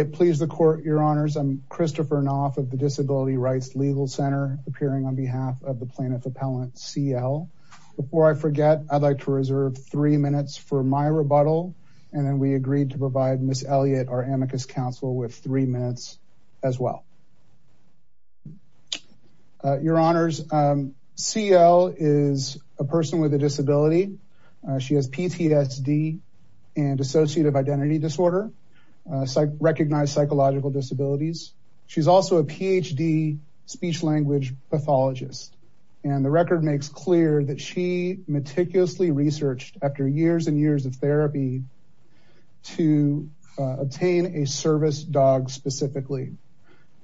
I'm Christopher Knopf of the Disability Rights Legal Center, appearing on behalf of the plaintiff appellant C. L. Before I forget, I'd like to reserve three minutes for my rebuttal, and then we agreed to provide Ms. Elliott, our amicus counsel, with three minutes as well. Your honors, C. L. is a person with a disability. She has PTSD and associative identity disorder, recognized psychological disabilities. She's also a Ph.D. speech-language pathologist, and the record makes clear that she meticulously researched after years and years of therapy to obtain a service dog specifically,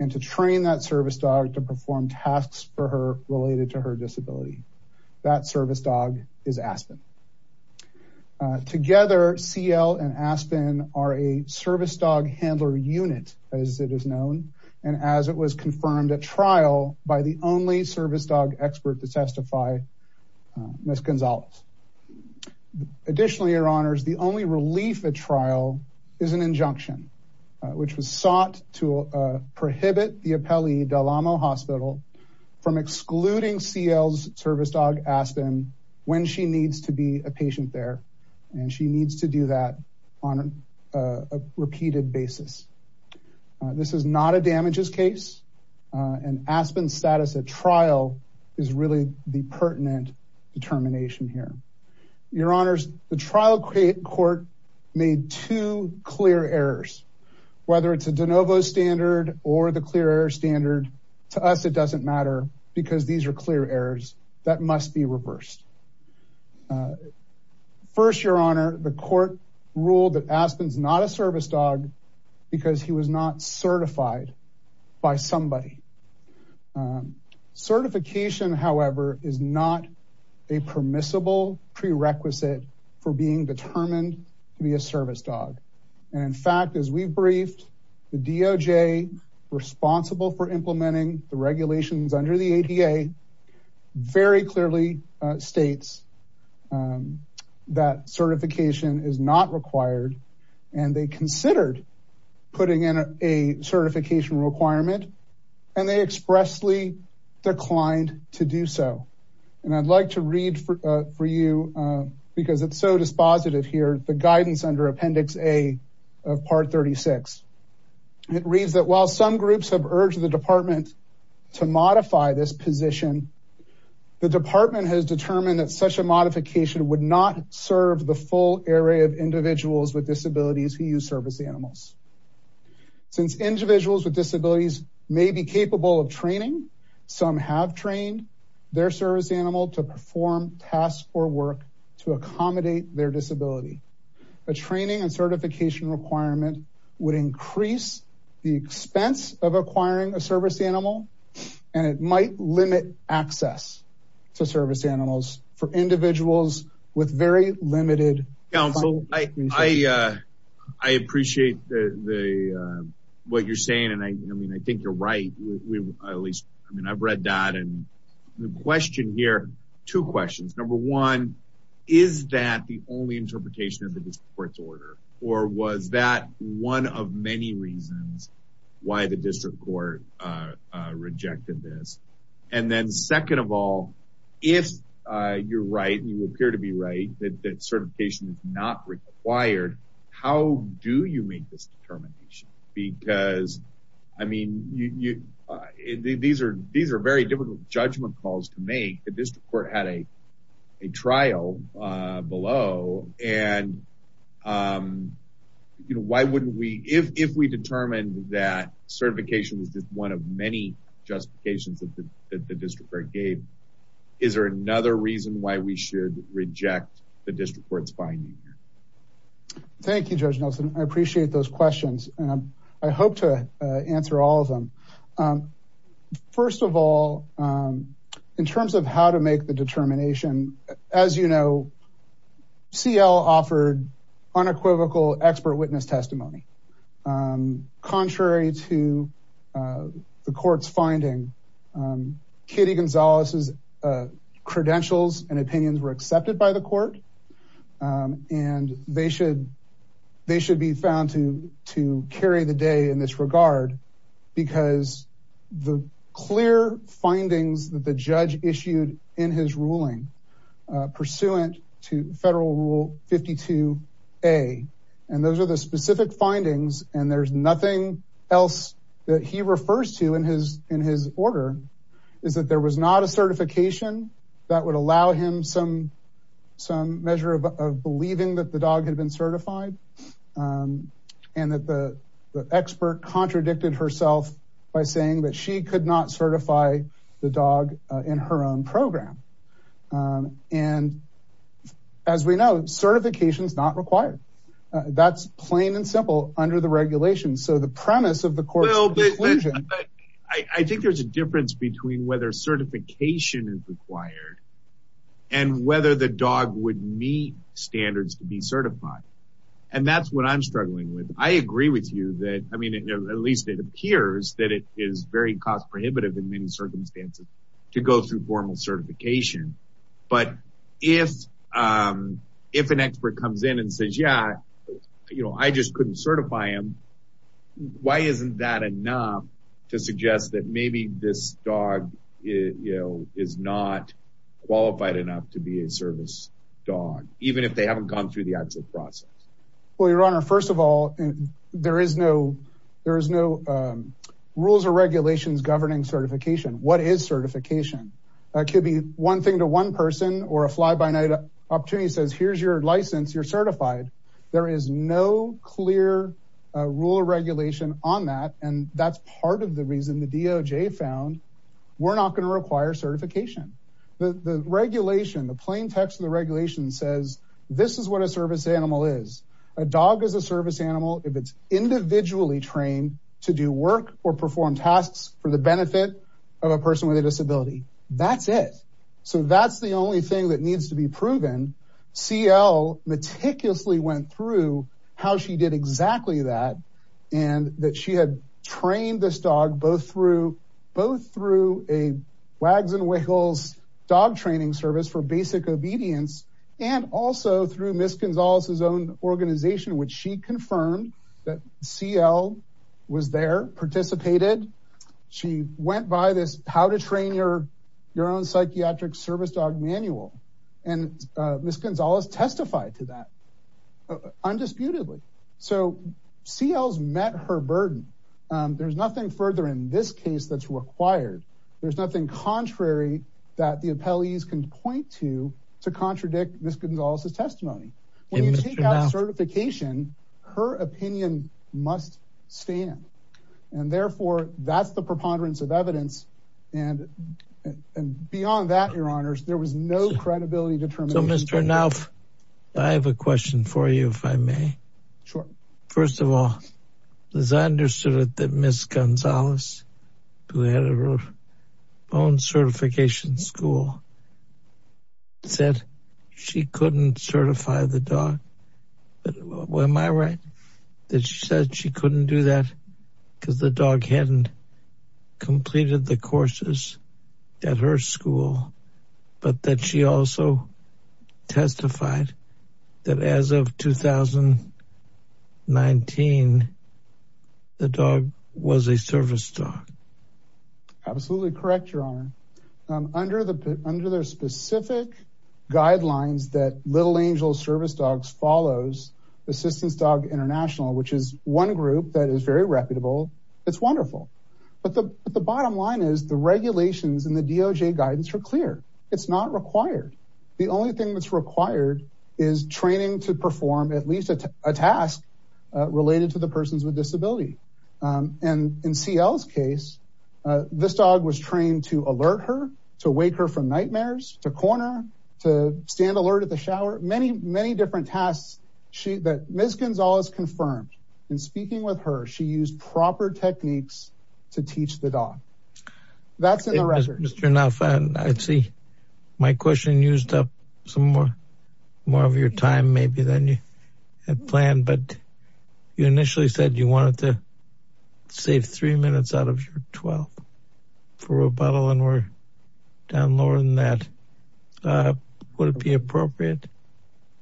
and to train that service dog to perform tasks for her related to her disability. That service dog is Aspen. Together, C. L. and Aspen are a service dog handler unit, as it is known, and as it was confirmed at trial by the only service dog expert to testify, Ms. Gonzalez. Additionally, your honors, the only relief at trial is an injunction, which was sought to prohibit the appellee Del Amo Hospital from excluding C. L.'s service dog, Aspen, when she needs to be a patient there, and she needs to do that on a repeated basis. This is not a damages case, and Aspen's status at trial is really the pertinent determination here. Your honors, the trial court made two clear errors, whether it's a de novo standard or the clear error standard, to us it doesn't matter, because these are clear errors that must be reversed. First, your honor, the court ruled that Aspen's not a service dog because he was not certified by somebody. Certification, however, is not a permissible prerequisite for being determined to be a service dog. And in fact, as we briefed, the DOJ responsible for implementing the regulations under the ADA very clearly states that certification is not required, and they considered putting in a certification requirement, and they expressly declined to do so. And I'd like to read for you, because it's so dispositive here, the guidance under Appendix A of Part 36. It reads that while some groups have urged the department to modify this position, the department has determined that such a modification would not serve the full area of individuals with disabilities who use service animals. Since individuals with disabilities may be capable of training, some have trained their service animal to perform tasks or work to accommodate their disability. A training and certification requirement would increase the expense of acquiring a service animal, and it might limit access to service animals for individuals with very limited disabilities. I appreciate what you're saying, and I mean, I think you're right, at least, I mean, I've read that. And the question here, two questions. Number one, is that the only interpretation of the district court's order? Or was that one of many reasons why the district court rejected this? And then second of all, if you're right, and you appear to be right, that certification is not required, how do you make this determination? Because I mean, these are very difficult judgment calls to make. The district court had a trial below, and why wouldn't we, if we determined that certification was just one of many justifications that the district court gave, is there another reason why we should reject the district court's finding? Thank you, Judge Nelson. I appreciate those questions, and I hope to answer all of them. First of all, in terms of how to make the determination, as you know, CL offered unequivocal expert witness testimony. Contrary to the court's finding, Kitty Gonzalez's credentials and opinions were accepted by the court, and they should be found to carry the day in this regard, because the clear And those are the specific findings, and there's nothing else that he refers to in his order, is that there was not a certification that would allow him some measure of believing that the dog had been certified, and that the expert contradicted herself by saying that she could not certify the dog in her own program. And, as we know, certification is not required. That's plain and simple under the regulations. So the premise of the court's conclusion... I think there's a difference between whether certification is required and whether the dog would meet standards to be certified, and that's what I'm struggling with. I agree with you that, I mean, at least it appears that it is very cost prohibitive in many circumstances to go through formal certification. But if an expert comes in and says, yeah, you know, I just couldn't certify him, why isn't that enough to suggest that maybe this dog, you know, is not qualified enough to be a service dog, even if they haven't gone through the actual process? Well, Your Honor, first of all, there is no rules or regulations governing certification. What is certification? It could be one thing to one person, or a fly-by-night opportunity says, here's your license, you're certified. There is no clear rule or regulation on that, and that's part of the reason the DOJ found we're not going to require certification. The regulation, the plain text of the regulation says, this is what a service animal is. A dog is a service animal if it's individually trained to do work or perform tasks for the benefit of a person with a disability. That's it. So that's the only thing that needs to be proven. CL meticulously went through how she did exactly that, and that she had trained this dog both through a Wags and Wiggles dog training service for basic obedience, and also through Ms. Gonzalez's own organization, which she confirmed that CL was there, participated. She went by this How to Train Your Own Psychiatric Service Dog manual, and Ms. Gonzalez testified to that, undisputedly. So CL's met her burden. There's nothing further in this case that's required. There's nothing contrary that the appellees can point to, to contradict Ms. Gonzalez's testimony. When you take out certification, her opinion must stand, and therefore, that's the preponderance of evidence, and beyond that, your honors, there was no credibility determination. So Mr. Nauf, I have a question for you, if I may. Sure. First of all, as I understood it, that Ms. Gonzalez, who had her own certification school, said she couldn't certify the dog. Am I right? That she said she couldn't do that because the dog hadn't completed the courses at her age of 19, the dog was a service dog. Absolutely correct, your honor. Under their specific guidelines that Little Angels Service Dogs follows, Assistance Dog International, which is one group that is very reputable, it's wonderful. But the bottom line is, the regulations and the DOJ guidance are clear. It's not required. The only thing that's required is training to perform at least a task related to the persons with disability. And in CL's case, this dog was trained to alert her, to wake her from nightmares, to corner, to stand alert at the shower, many, many different tasks that Ms. Gonzalez confirmed. In speaking with her, she used proper techniques to teach the dog. That's in the records. Mr. Nuff, I see my question used up some more of your time maybe than you had planned, but you initially said you wanted to save three minutes out of your 12 for rebuttal, and we're down lower than that. Would it be appropriate,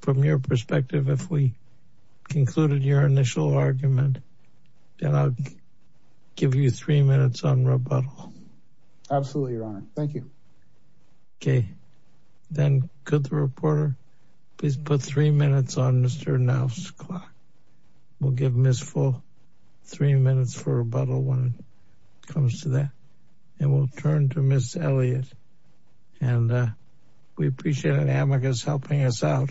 from your perspective, if we concluded your initial argument, and I'll give you three minutes on rebuttal? Absolutely, Your Honor. Thank you. Okay. Then, could the reporter please put three minutes on Mr. Nuff's clock? We'll give Ms. Full three minutes for rebuttal when it comes to that. And we'll turn to Ms. Elliott. And we appreciate an amicus helping us out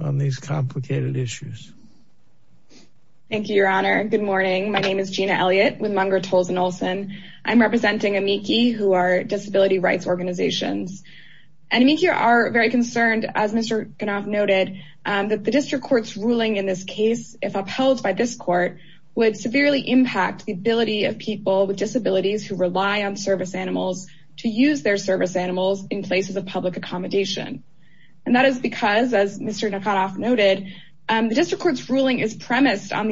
on these complicated issues. Thank you, Your Honor. Good morning. My name is Gina Elliott with Munger, Tolles & Olson. I'm representing AMICI, who are disability rights organizations. And AMICI are very concerned, as Mr. Knopf noted, that the district court's ruling in this case, if upheld by this court, would severely impact the ability of people with disabilities who rely on service animals to use their service animals in places of public accommodation. And that is because, as Mr. Knopf noted, the district court's ruling is premised on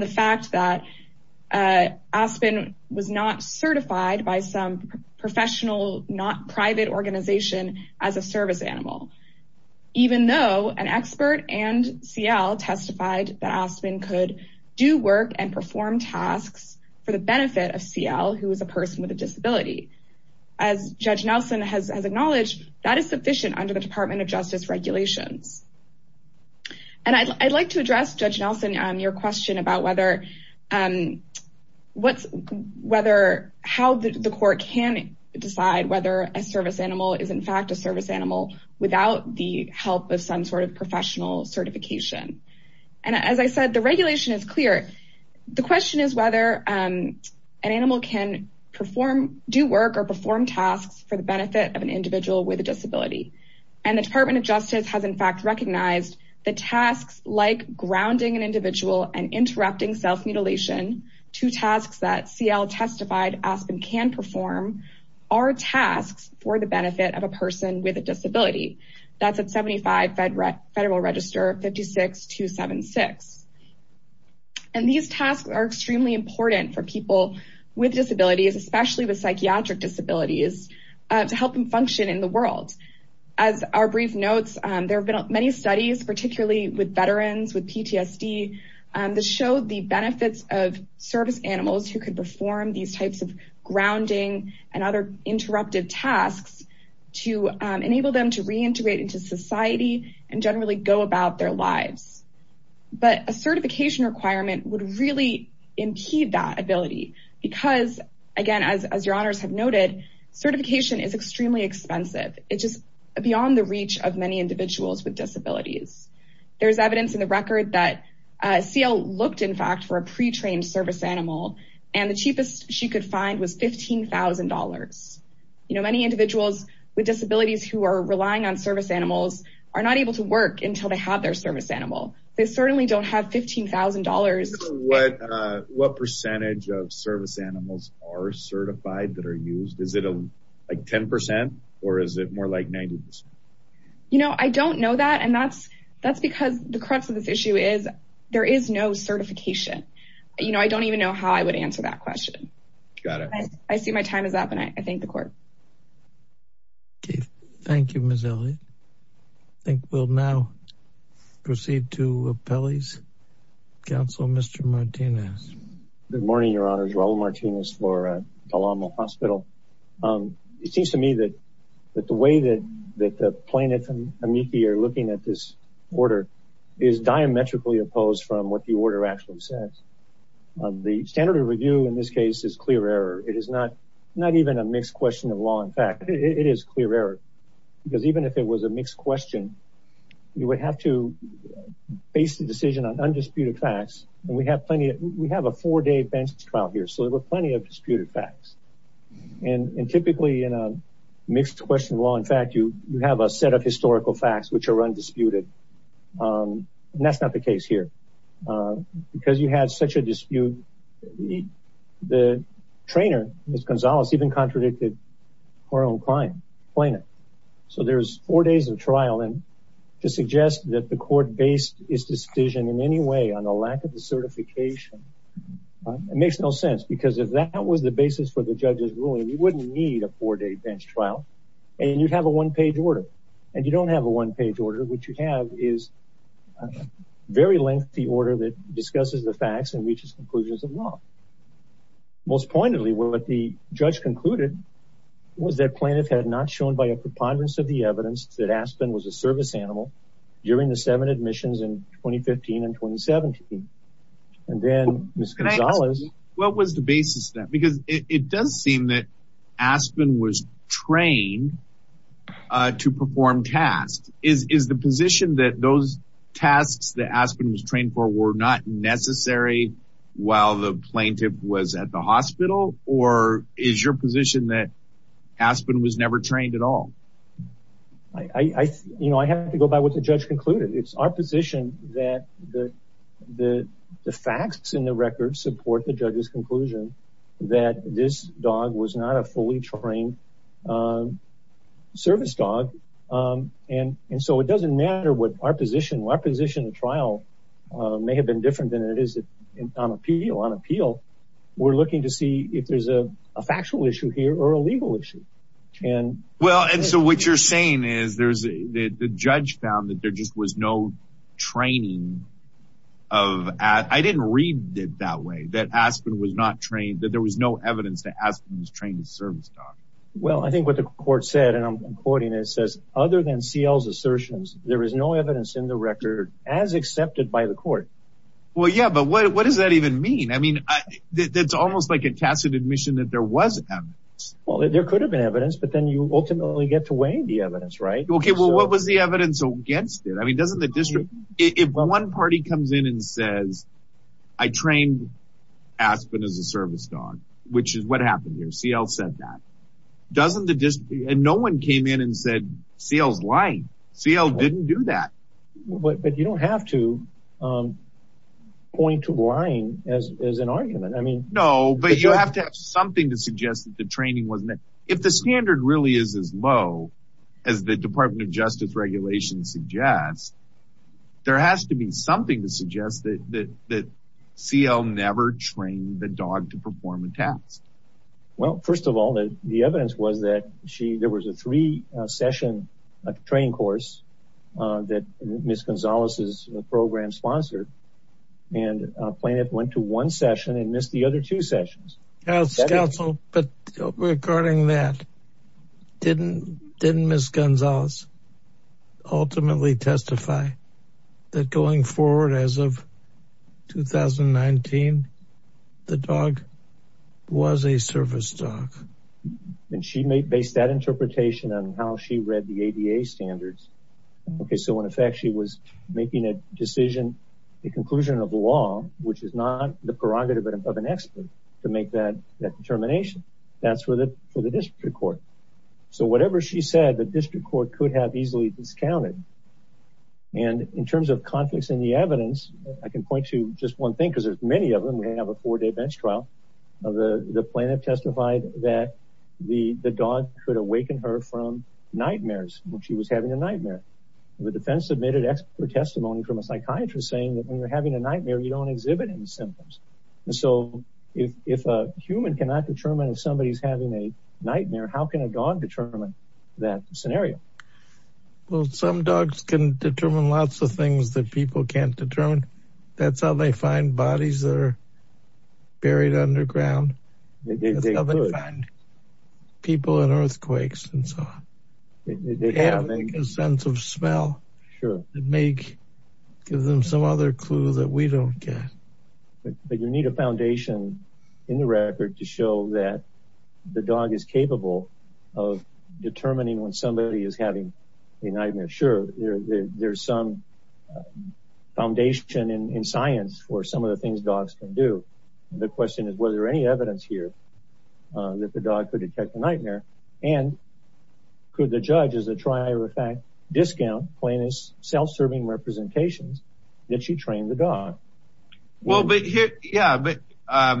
the fact that Aspen was not certified by some professional, not private organization as a service animal, even though an expert and CL testified that Aspen could do work and perform tasks for the benefit of CL, who is a person with a disability. As Judge Nelson has acknowledged, that is sufficient under the Department of Justice regulations. And I'd like to address, Judge Nelson, your question about how the court can decide whether a service animal is, in fact, a service animal without the help of some sort of professional certification. And as I said, the regulation is clear. The question is whether an animal can do work or perform tasks for the benefit of an individual with a disability. And the Department of Justice has, in fact, recognized that tasks like grounding an individual and interrupting self-mutilation, two tasks that CL testified Aspen can perform, are tasks for the benefit of a person with a disability. That's at 75 Federal Register 56276. And these tasks are extremely important for people with disabilities, especially with psychiatric disabilities, to help them function in the world. As our brief notes, there have been many studies, particularly with veterans, with PTSD, that show the benefits of service animals who can perform these types of grounding and other interrupted tasks to enable them to reintegrate into society and generally go about their lives. But a certification requirement would really impede that ability because, again, as your know, it is beyond the reach of many individuals with disabilities. There is evidence in the record that CL looked, in fact, for a pre-trained service animal, and the cheapest she could find was $15,000. You know, many individuals with disabilities who are relying on service animals are not able to work until they have their service animal. They certainly don't have $15,000. What percentage of service animals are certified that are used? Is it like 10%? Or is it more like 90%? You know, I don't know that, and that's because the crux of this issue is there is no certification. You know, I don't even know how I would answer that question. Got it. I see my time is up, and I thank the Court. Okay. Thank you, Ms. Elliott. I think we'll now proceed to Appellee's Counsel, Mr. Martinez. Good morning, Your Honors. Raul Martinez for Palomo Hospital. It seems to me that the way that the plaintiffs and amici are looking at this order is diametrically opposed from what the order actually says. The standard of review in this case is clear error. It is not even a mixed question of law and fact. It is clear error, because even if it was a mixed question, you would have to base the We have a four-day bench trial here, so there were plenty of disputed facts. And typically, in a mixed question of law and fact, you have a set of historical facts which are undisputed, and that's not the case here. Because you had such a dispute, the trainer, Ms. Gonzalez, even contradicted her own client, the plaintiff. So there's four days of trial, and to suggest that the Court based its decision in any way on the lack of the certification, it makes no sense. Because if that was the basis for the judge's ruling, we wouldn't need a four-day bench trial. And you'd have a one-page order. And you don't have a one-page order. What you have is a very lengthy order that discusses the facts and reaches conclusions of law. Most pointedly, what the judge concluded was that plaintiff had not shown by a preponderance of the evidence that Aspen was a service animal during the seven admissions in 2015 and 2017. And then Ms. Gonzalez— What was the basis of that? Because it does seem that Aspen was trained to perform tasks. Is the position that those tasks that Aspen was trained for were not necessary while the plaintiff was at the hospital? Or is your position that Aspen was never trained at all? I have to go by what the judge concluded. It's our position that the facts in the record support the judge's conclusion that this dog was not a fully trained service dog. And so it doesn't matter what our position. Our position in trial may have been different than it is on appeal. We're looking to see if there's a factual issue here or a legal issue. Well, and so what you're saying is the judge found that there just was no training of— I didn't read it that way, that Aspen was not trained— that there was no evidence that Aspen was trained as a service dog. Well, I think what the court said, and I'm quoting it, it says, other than CL's assertions, there is no evidence in the record as accepted by the court. Well, yeah, but what does that even mean? I mean, it's almost like a tacit admission that there was evidence. Well, there could have been evidence, but then you ultimately get to weigh the evidence, right? Okay, well, what was the evidence against it? I mean, doesn't the district—if one party comes in and says, I trained Aspen as a service dog, which is what happened here. CL said that. Doesn't the district—and no one came in and said, CL's lying. CL didn't do that. But you don't have to point to lying as an argument. No, but you have to have something to suggest that the training wasn't— if the standard really is as low as the Department of Justice regulations suggest, there has to be something to suggest that CL never trained the dog to perform a task. Well, first of all, the evidence was that there was a three-session training course that Ms. Gonzalez's program sponsored, and plaintiff went to one session and missed the other two sessions. Counsel, but regarding that, didn't Ms. Gonzalez ultimately testify that going forward as of 2019, the dog was a service dog? And she based that interpretation on how she read the ADA standards. Okay, so in effect, she was making a decision, a conclusion of the law, which is not the prerogative of an expert to make that determination. That's for the district court. So whatever she said, the district court could have easily discounted. And in terms of conflicts in the evidence, I can point to just one thing because there's many of them. We have a four-day bench trial. The plaintiff testified that the dog could awaken her from nightmares when she was having a nightmare. The defense submitted expert testimony from a psychiatrist saying that when you're having a nightmare, you don't exhibit any symptoms. And so if a human cannot determine if somebody's having a nightmare, how can a dog determine that scenario? Well, some dogs can determine lots of things that people can't determine. That's how they find bodies that are buried underground. That's how they find people in earthquakes and so on. They have a sense of smell. It may give them some other clue that we don't get. But you need a foundation in the record to show that the dog is capable of determining when somebody is having a nightmare. Sure, there's some foundation in science for some of the things dogs can do. The question is, was there any evidence here that the dog could detect a nightmare and could the judge, as a trier of fact, discount plaintiff's self-serving representations that she trained the dog? Well, but here, yeah, but I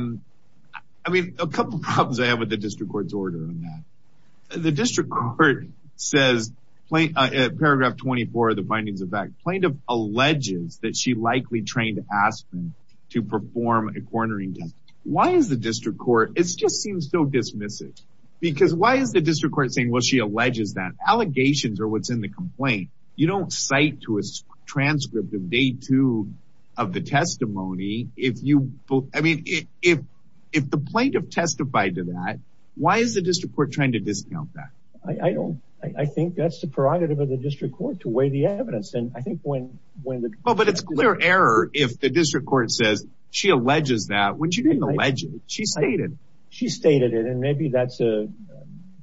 mean, a couple of problems I have with the district court's order on that. The district court says, paragraph 24 of the findings of fact, plaintiff alleges that she likely trained Aspen to perform a cornering test. Why is the district court, it just seems so dismissive. Because why is the district court saying, well, she alleges that? Allegations are what's in the complaint. You don't cite to a transcript of day two of the testimony if you, I mean, if the plaintiff testified to that, why is the district court trying to discount that? I don't, I think that's the prerogative of the district court to weigh the evidence, and I think when the- Well, but it's clear error if the district court says she alleges that when she didn't allege it, she stated it. She stated it, and maybe that's a-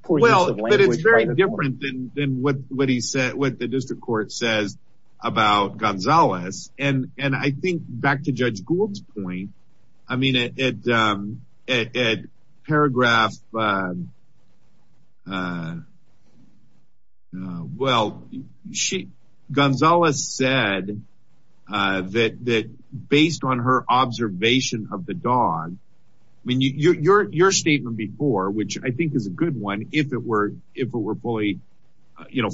Well, but it's very different than what the district court says about Gonzales, and I think, back to Judge Gould's point, I mean, at paragraph, well, Gonzales said that based on her statement before, which I think is a good one if it were fully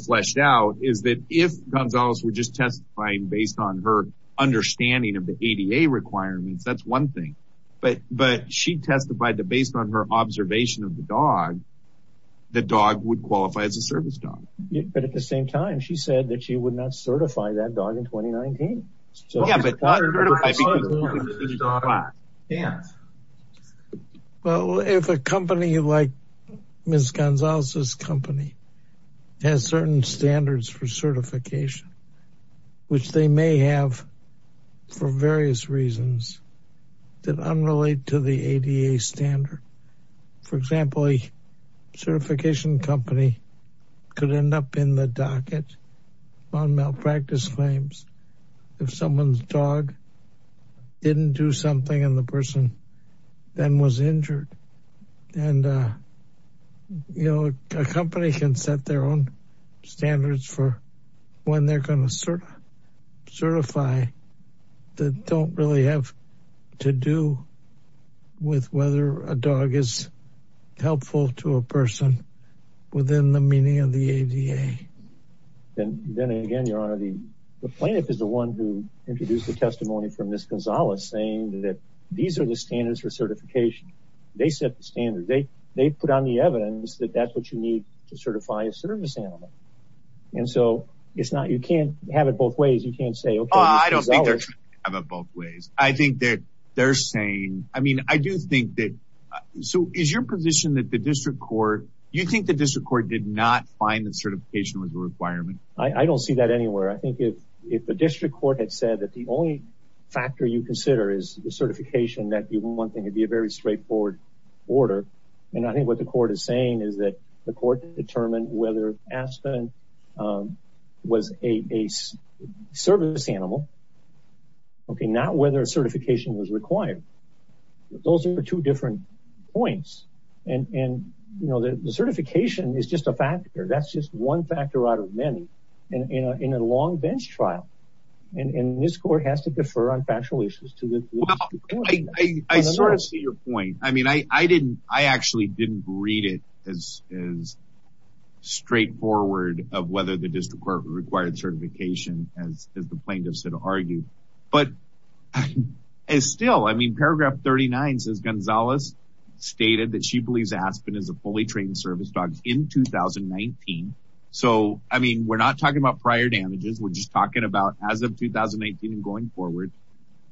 fleshed out, is that if Gonzales were just testifying based on her understanding of the ADA requirements, that's one thing, but she testified that based on her observation of the dog, the dog would qualify as a service dog. But at the same time, she said that she would not certify that dog in 2019. So, yeah, but I think- Well, if a company like Ms. Gonzales' company has certain standards for certification, which they may have for various reasons that unrelate to the ADA standard, for example, on malpractice claims, if someone's dog didn't do something and the person then was injured. And, you know, a company can set their own standards for when they're going to certify that don't really have to do with whether a dog is helpful to a person within the meaning of the ADA. Then again, Your Honor, the plaintiff is the one who introduced the testimony from Ms. Gonzales saying that these are the standards for certification. They set the standards. They put on the evidence that that's what you need to certify a service animal. And so it's not- you can't have it both ways. You can't say, okay, Ms. Gonzales- I don't think they're trying to have it both ways. I think that they're saying- I mean, I do think that- So is your position that the district court- I don't see that anywhere. I think if the district court had said that the only factor you consider is the certification, that one thing would be a very straightforward order. And I think what the court is saying is that the court determined whether Aspen was a service animal, okay, not whether certification was required. Those are two different points. And, you know, the certification is just a factor. That's just one factor out of many in a long bench trial. And this court has to defer on factual issues to the district court. Well, I sort of see your point. I mean, I actually didn't read it as straightforward of whether the district court required certification as the plaintiffs had argued. But still, I mean, paragraph 39 says Gonzales stated that she believes Aspen is a fully trained service dog in 2019. So, I mean, we're not talking about prior damages. We're just talking about as of 2019 and going forward.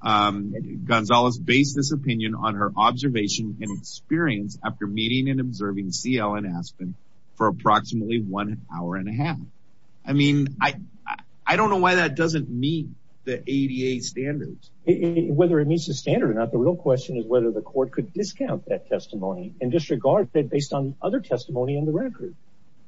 Gonzales based this opinion on her observation and experience after meeting and observing CL and Aspen for approximately one hour and a half. I mean, I don't know why that doesn't meet the ADA standards. Whether it meets the standard or not, the real question is whether the court could discount that testimony and disregard it based on other testimony in the record.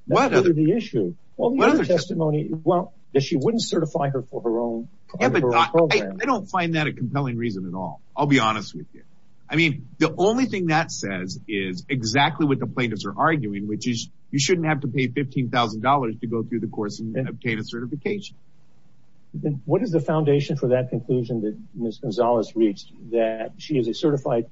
That's really the issue. Well, the other testimony, well, that she wouldn't certify her for her own program. I don't find that a compelling reason at all. I'll be honest with you. I mean, the only thing that says is exactly what the plaintiffs are arguing, which is you shouldn't have to pay $15,000 to go through the course and obtain a certification. What is the foundation for that conclusion that Ms. Gonzales reached? That she is a certified,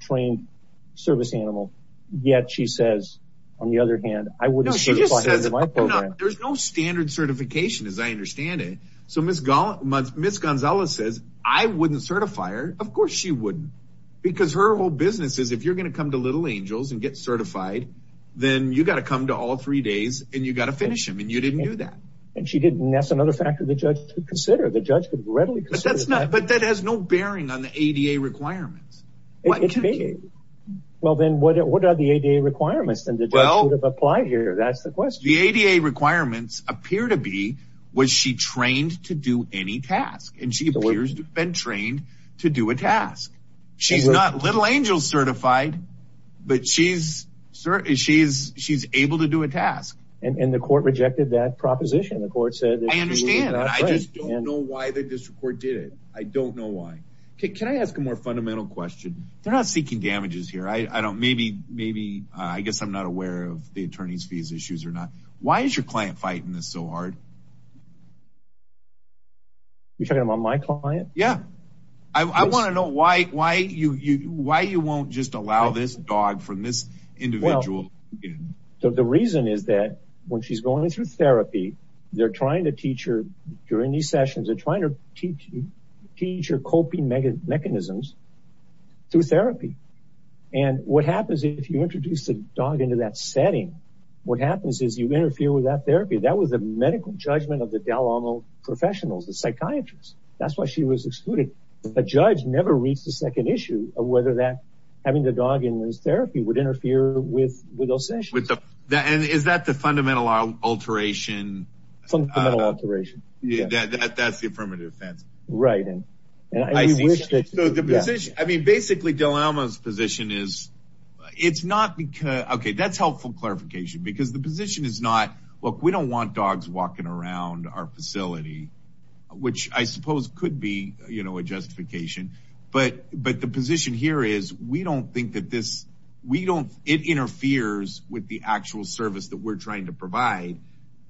trained service animal, yet she says, on the other hand, I wouldn't certify her for my program. There's no standard certification, as I understand it. So Ms. Gonzales says, I wouldn't certify her. Of course she wouldn't. Because her whole business is if you're going to come to Little Angels and get certified, then you got to come to all three days and you got to finish them. And you didn't do that. And she didn't. And that's another factor the judge could consider. The judge could readily consider that. But that has no bearing on the ADA requirements. It may. Well, then what are the ADA requirements that the judge would have applied here? That's the question. The ADA requirements appear to be, was she trained to do any task? And she appears to have been trained to do a task. She's not Little Angels certified, And the court rejected that proposition. The court said that she was not trained. I understand. I just don't know why the district court did it. I don't know why. Can I ask a more fundamental question? They're not seeking damages here. I don't, maybe, maybe, I guess I'm not aware of the attorney's fees issues or not. Why is your client fighting this so hard? You're talking about my client? Yeah. I want to know why, why you, why you won't just allow this dog from this individual. The reason is that when she's going through therapy, they're trying to teach her during these sessions, they're trying to teach you, teach her coping mechanisms through therapy. And what happens if you introduce the dog into that setting, what happens is you interfere with that therapy. That was a medical judgment of the Dalamo professionals, the psychiatrists. That's why she was excluded. The judge never reached the second issue of whether that, having the dog in this therapy would interfere with, with those sessions. And is that the fundamental alteration? Fundamental alteration. Yeah. That, that, that's the affirmative defense. Right. So the position, I mean, basically Dalamo's position is it's not because, okay, that's helpful clarification because the position is not, look, we don't want dogs walking around our facility, which I suppose could be, you know, a justification, but, but the position here is we don't think that this, we don't, it interferes with the actual service that we're trying to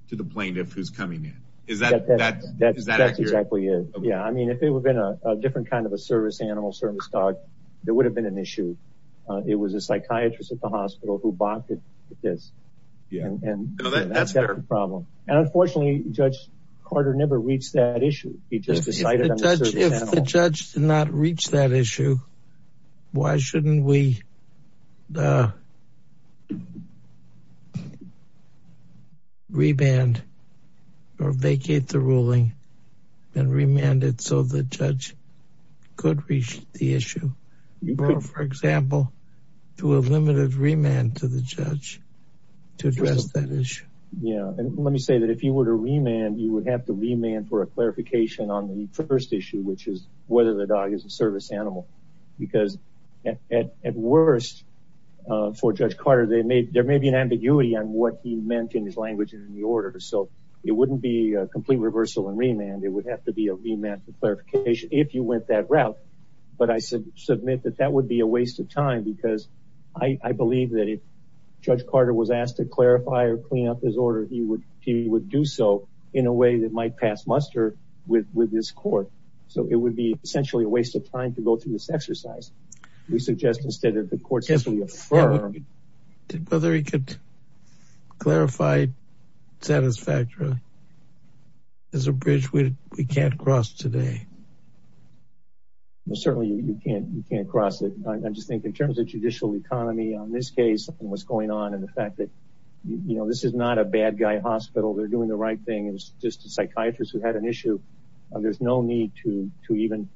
explain if who's coming in. Is that, that, that's exactly it. Yeah. I mean, if it would have been a different kind of a service animal service dog, there would have been an issue. It was a psychiatrist at the hospital who bought it. It is. Yeah. And that's the problem. And unfortunately judge Carter never reached that issue. He just decided. If the judge did not reach that issue, why shouldn't we Reband or vacate the ruling and remanded so the judge could reach the issue. For example, to a limited remand to the judge to address that issue. Yeah. And let me say that if you were to remand, you would have to remand for a clarification on the first at worst, if you were to remand, you would have to remand for a clarification on the first issue, which is whether the dog is a service animal, uh, for judge Carter. They may, there may be an ambiguity on what he meant in his language and in the order. So it wouldn't be a complete reversal and remand. It would have to be a remand for clarification if you went that route. But I said, submit that that would be a waste of time because I, I believe that if judge Carter was asked to clarify or clean up his order, he would, he would do so in a way that might pass muster with, with this court. So it would be essentially a waste of time to go through this exercise. We suggest instead of the courts, if we affirm, did whether he could clarify satisfactory as a bridge, we can't cross today. Well, certainly you can't, you can't cross it. I'm just thinking in terms of judicial economy on this case and what's going on in the fact that, you know, this is not a bad guy hospital. They're doing the right thing. It was just a psychiatrist who had an issue. There's no need to, to even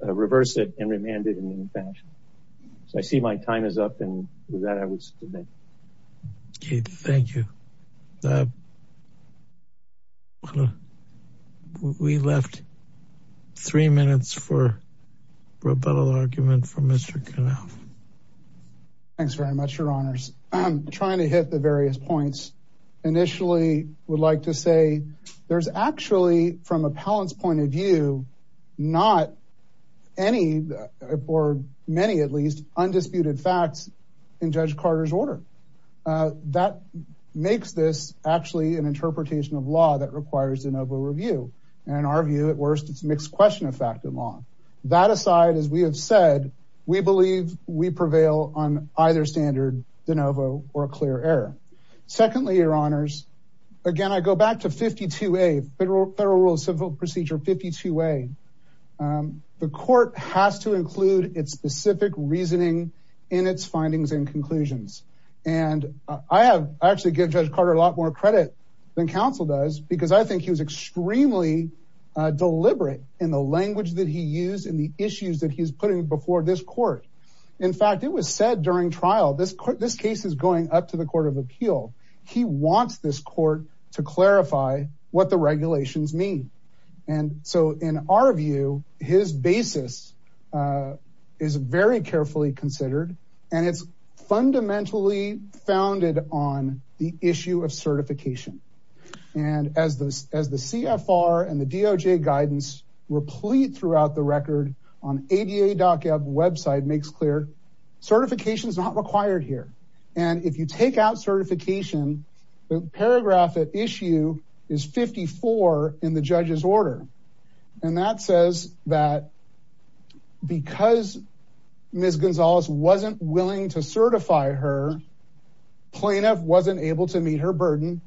reverse it and remanded in any fashion. So I see my time is up. And with that, I would submit. Okay. Thank you. We left three minutes for rebuttal argument from Mr. Thanks very much. Your honors. I'm trying to hit the various points. Initially would like to say there's actually from a palance point of view, not any or many, at least undisputed facts in judge Carter's order. That makes this actually an interpretation of law that requires de novo review. And our view at worst, it's mixed question of fact and law that aside, as we have said, we believe we prevail on either standard de novo or a clear error. Secondly, your honors. Again, I go back to 52, a federal federal rule of civil procedure, 52 way. The court has to include its specific reasoning in its findings and conclusions. And I have actually give judge Carter a lot more credit than council does, because I think he was extremely deliberate in the language that he used in the issues that he's putting before this court. In fact, it was said during trial, this court, this case is going up to the court of appeal. He wants this court to clarify what the regulations mean. And so in our view, his basis is very carefully considered and it's fundamentally founded on the issue of certification. And as the, as the CFR and the DOJ guidance replete throughout the record on ADA doc website makes clear certification is not required here. And if you take out certification, the paragraph issue is 54 in the judge's order. And that says that because Ms. Gonzalez wasn't willing to certify her plaintiff, wasn't able to meet her burden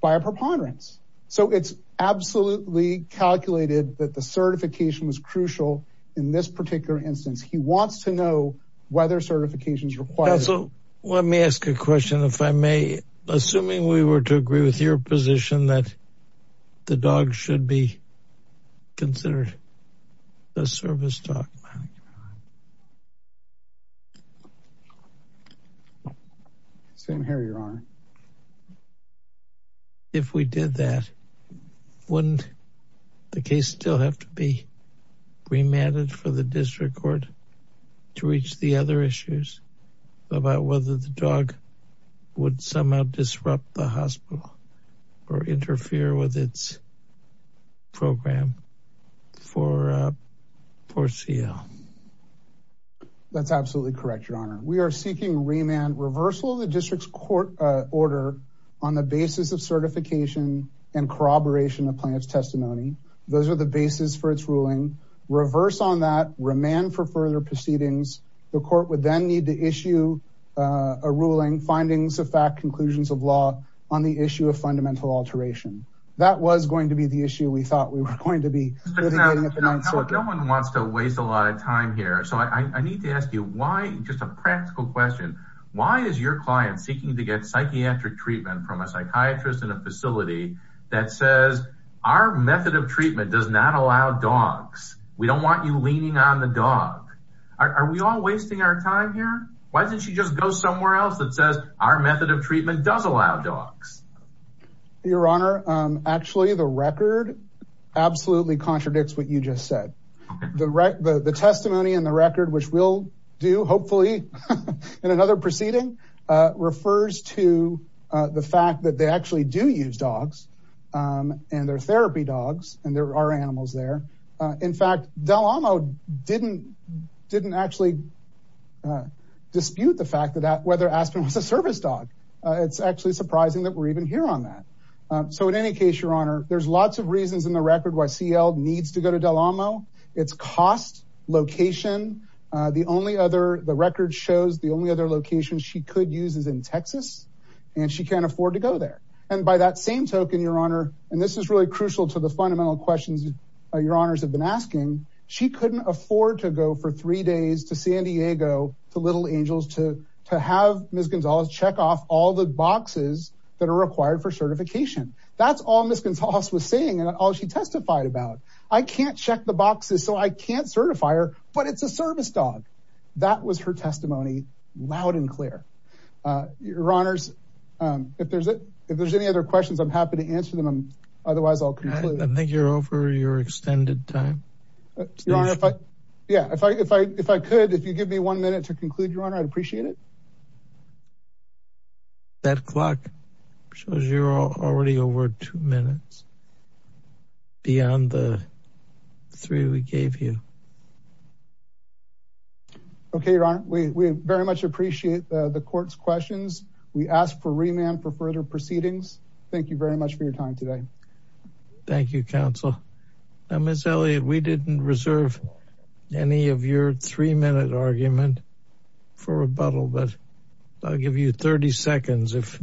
by a preponderance. So it's absolutely calculated that the certification was crucial in this particular instance. He wants to know whether certifications required. So let me ask a question. If I may, assuming we were to agree with your position that the dog should be considered a service dog. Sam, here you are. If we did that, wouldn't the case still have to be remanded? For the district court to reach the other issues about whether the dog would somehow disrupt the hospital or interfere with its program for, for CL that's absolutely correct. Your honor. We are seeking remand reversal of the district's court order on the basis of certification and corroboration of plaintiff's testimony. Those are the basis for its ruling. Reverse on that remand for further proceedings. The court would then need to issue a ruling findings of fact, conclusions of law on the issue of fundamental alteration. That was going to be the issue. We thought we were going to be. No one wants to waste a lot of time here. So I need to ask you why just a practical question. Why is your client seeking to get psychiatric treatment from a psychiatrist in a facility that says our method of treatment does not allow dogs. We don't want you leaning on the dog. Are we all wasting our time here? Why didn't she just go somewhere else that says our method of treatment does allow dogs. Your honor. Actually the record absolutely contradicts what you just said. The right, the testimony and the record, which we'll do hopefully in another proceeding refers to the fact that they actually do use dogs and their therapy dogs. And there are animals there. In fact, Del Amo didn't, didn't actually. Dispute the fact that whether Aspen was a service dog. It's actually surprising that we're even here on that. So in any case, your honor, there's lots of reasons in the record. Why CL needs to go to Del Amo it's cost location. The only other, the record shows the only other location she could use is in Texas and she can't afford to go there. And by that same token, your honor. And this is really crucial to the fundamental questions. Your honors have been asking. She couldn't afford to go for three days to San Diego, to little angels, to, to have Ms. Gonzalez check off all the boxes that are required for certification. That's all Ms. Gonzalez was saying. And all she testified about, I can't check the boxes, so I can't certify her, but it's a service dog. That was her testimony loud and clear. Your honors. If there's a, if there's any other questions, I'm happy to answer them. Otherwise I'll conclude. I think you're over your extended time. Yeah. If I, if I, if I could, if you give me one minute to conclude your honor, I'd appreciate it. That clock shows you're already over two minutes. Beyond the three we gave you. Okay. Your honor. We very much appreciate the court's questions. We ask for remand for further proceedings. Thank you very much for your time today. Thank you. Counsel. Ms. Elliott, we didn't reserve any of your three minute argument for rebuttal, but I'll give you 30 seconds. If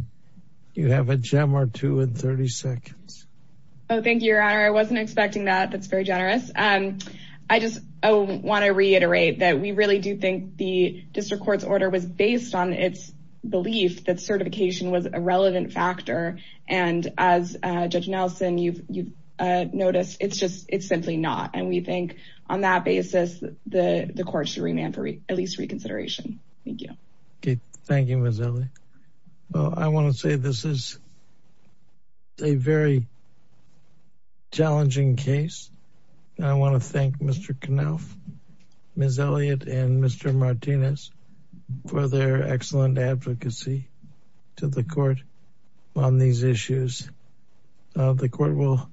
you have a gem or two in 30 seconds. Oh, thank you. Your honor. I wasn't expecting that. That's very generous. I just want to reiterate that we really do think the district court's order was based on its belief that certification was a relevant factor. And as a judge Nelson, you've you've noticed it's just, it's simply not. And we think on that basis, the, the court's remand for at least reconsideration. Thank you. Okay. Thank you. Well, I want to say this is. A very. Challenging case. I want to thank Mr. Knauf, Ms. Elliott, and Mr. Martinez for their excellent advocacy to the court. On these issues. The court will.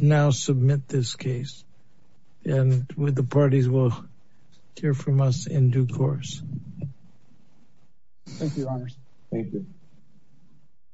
Now submit this case. And with the parties will. Hear from us in due course. Thank you. Thank you.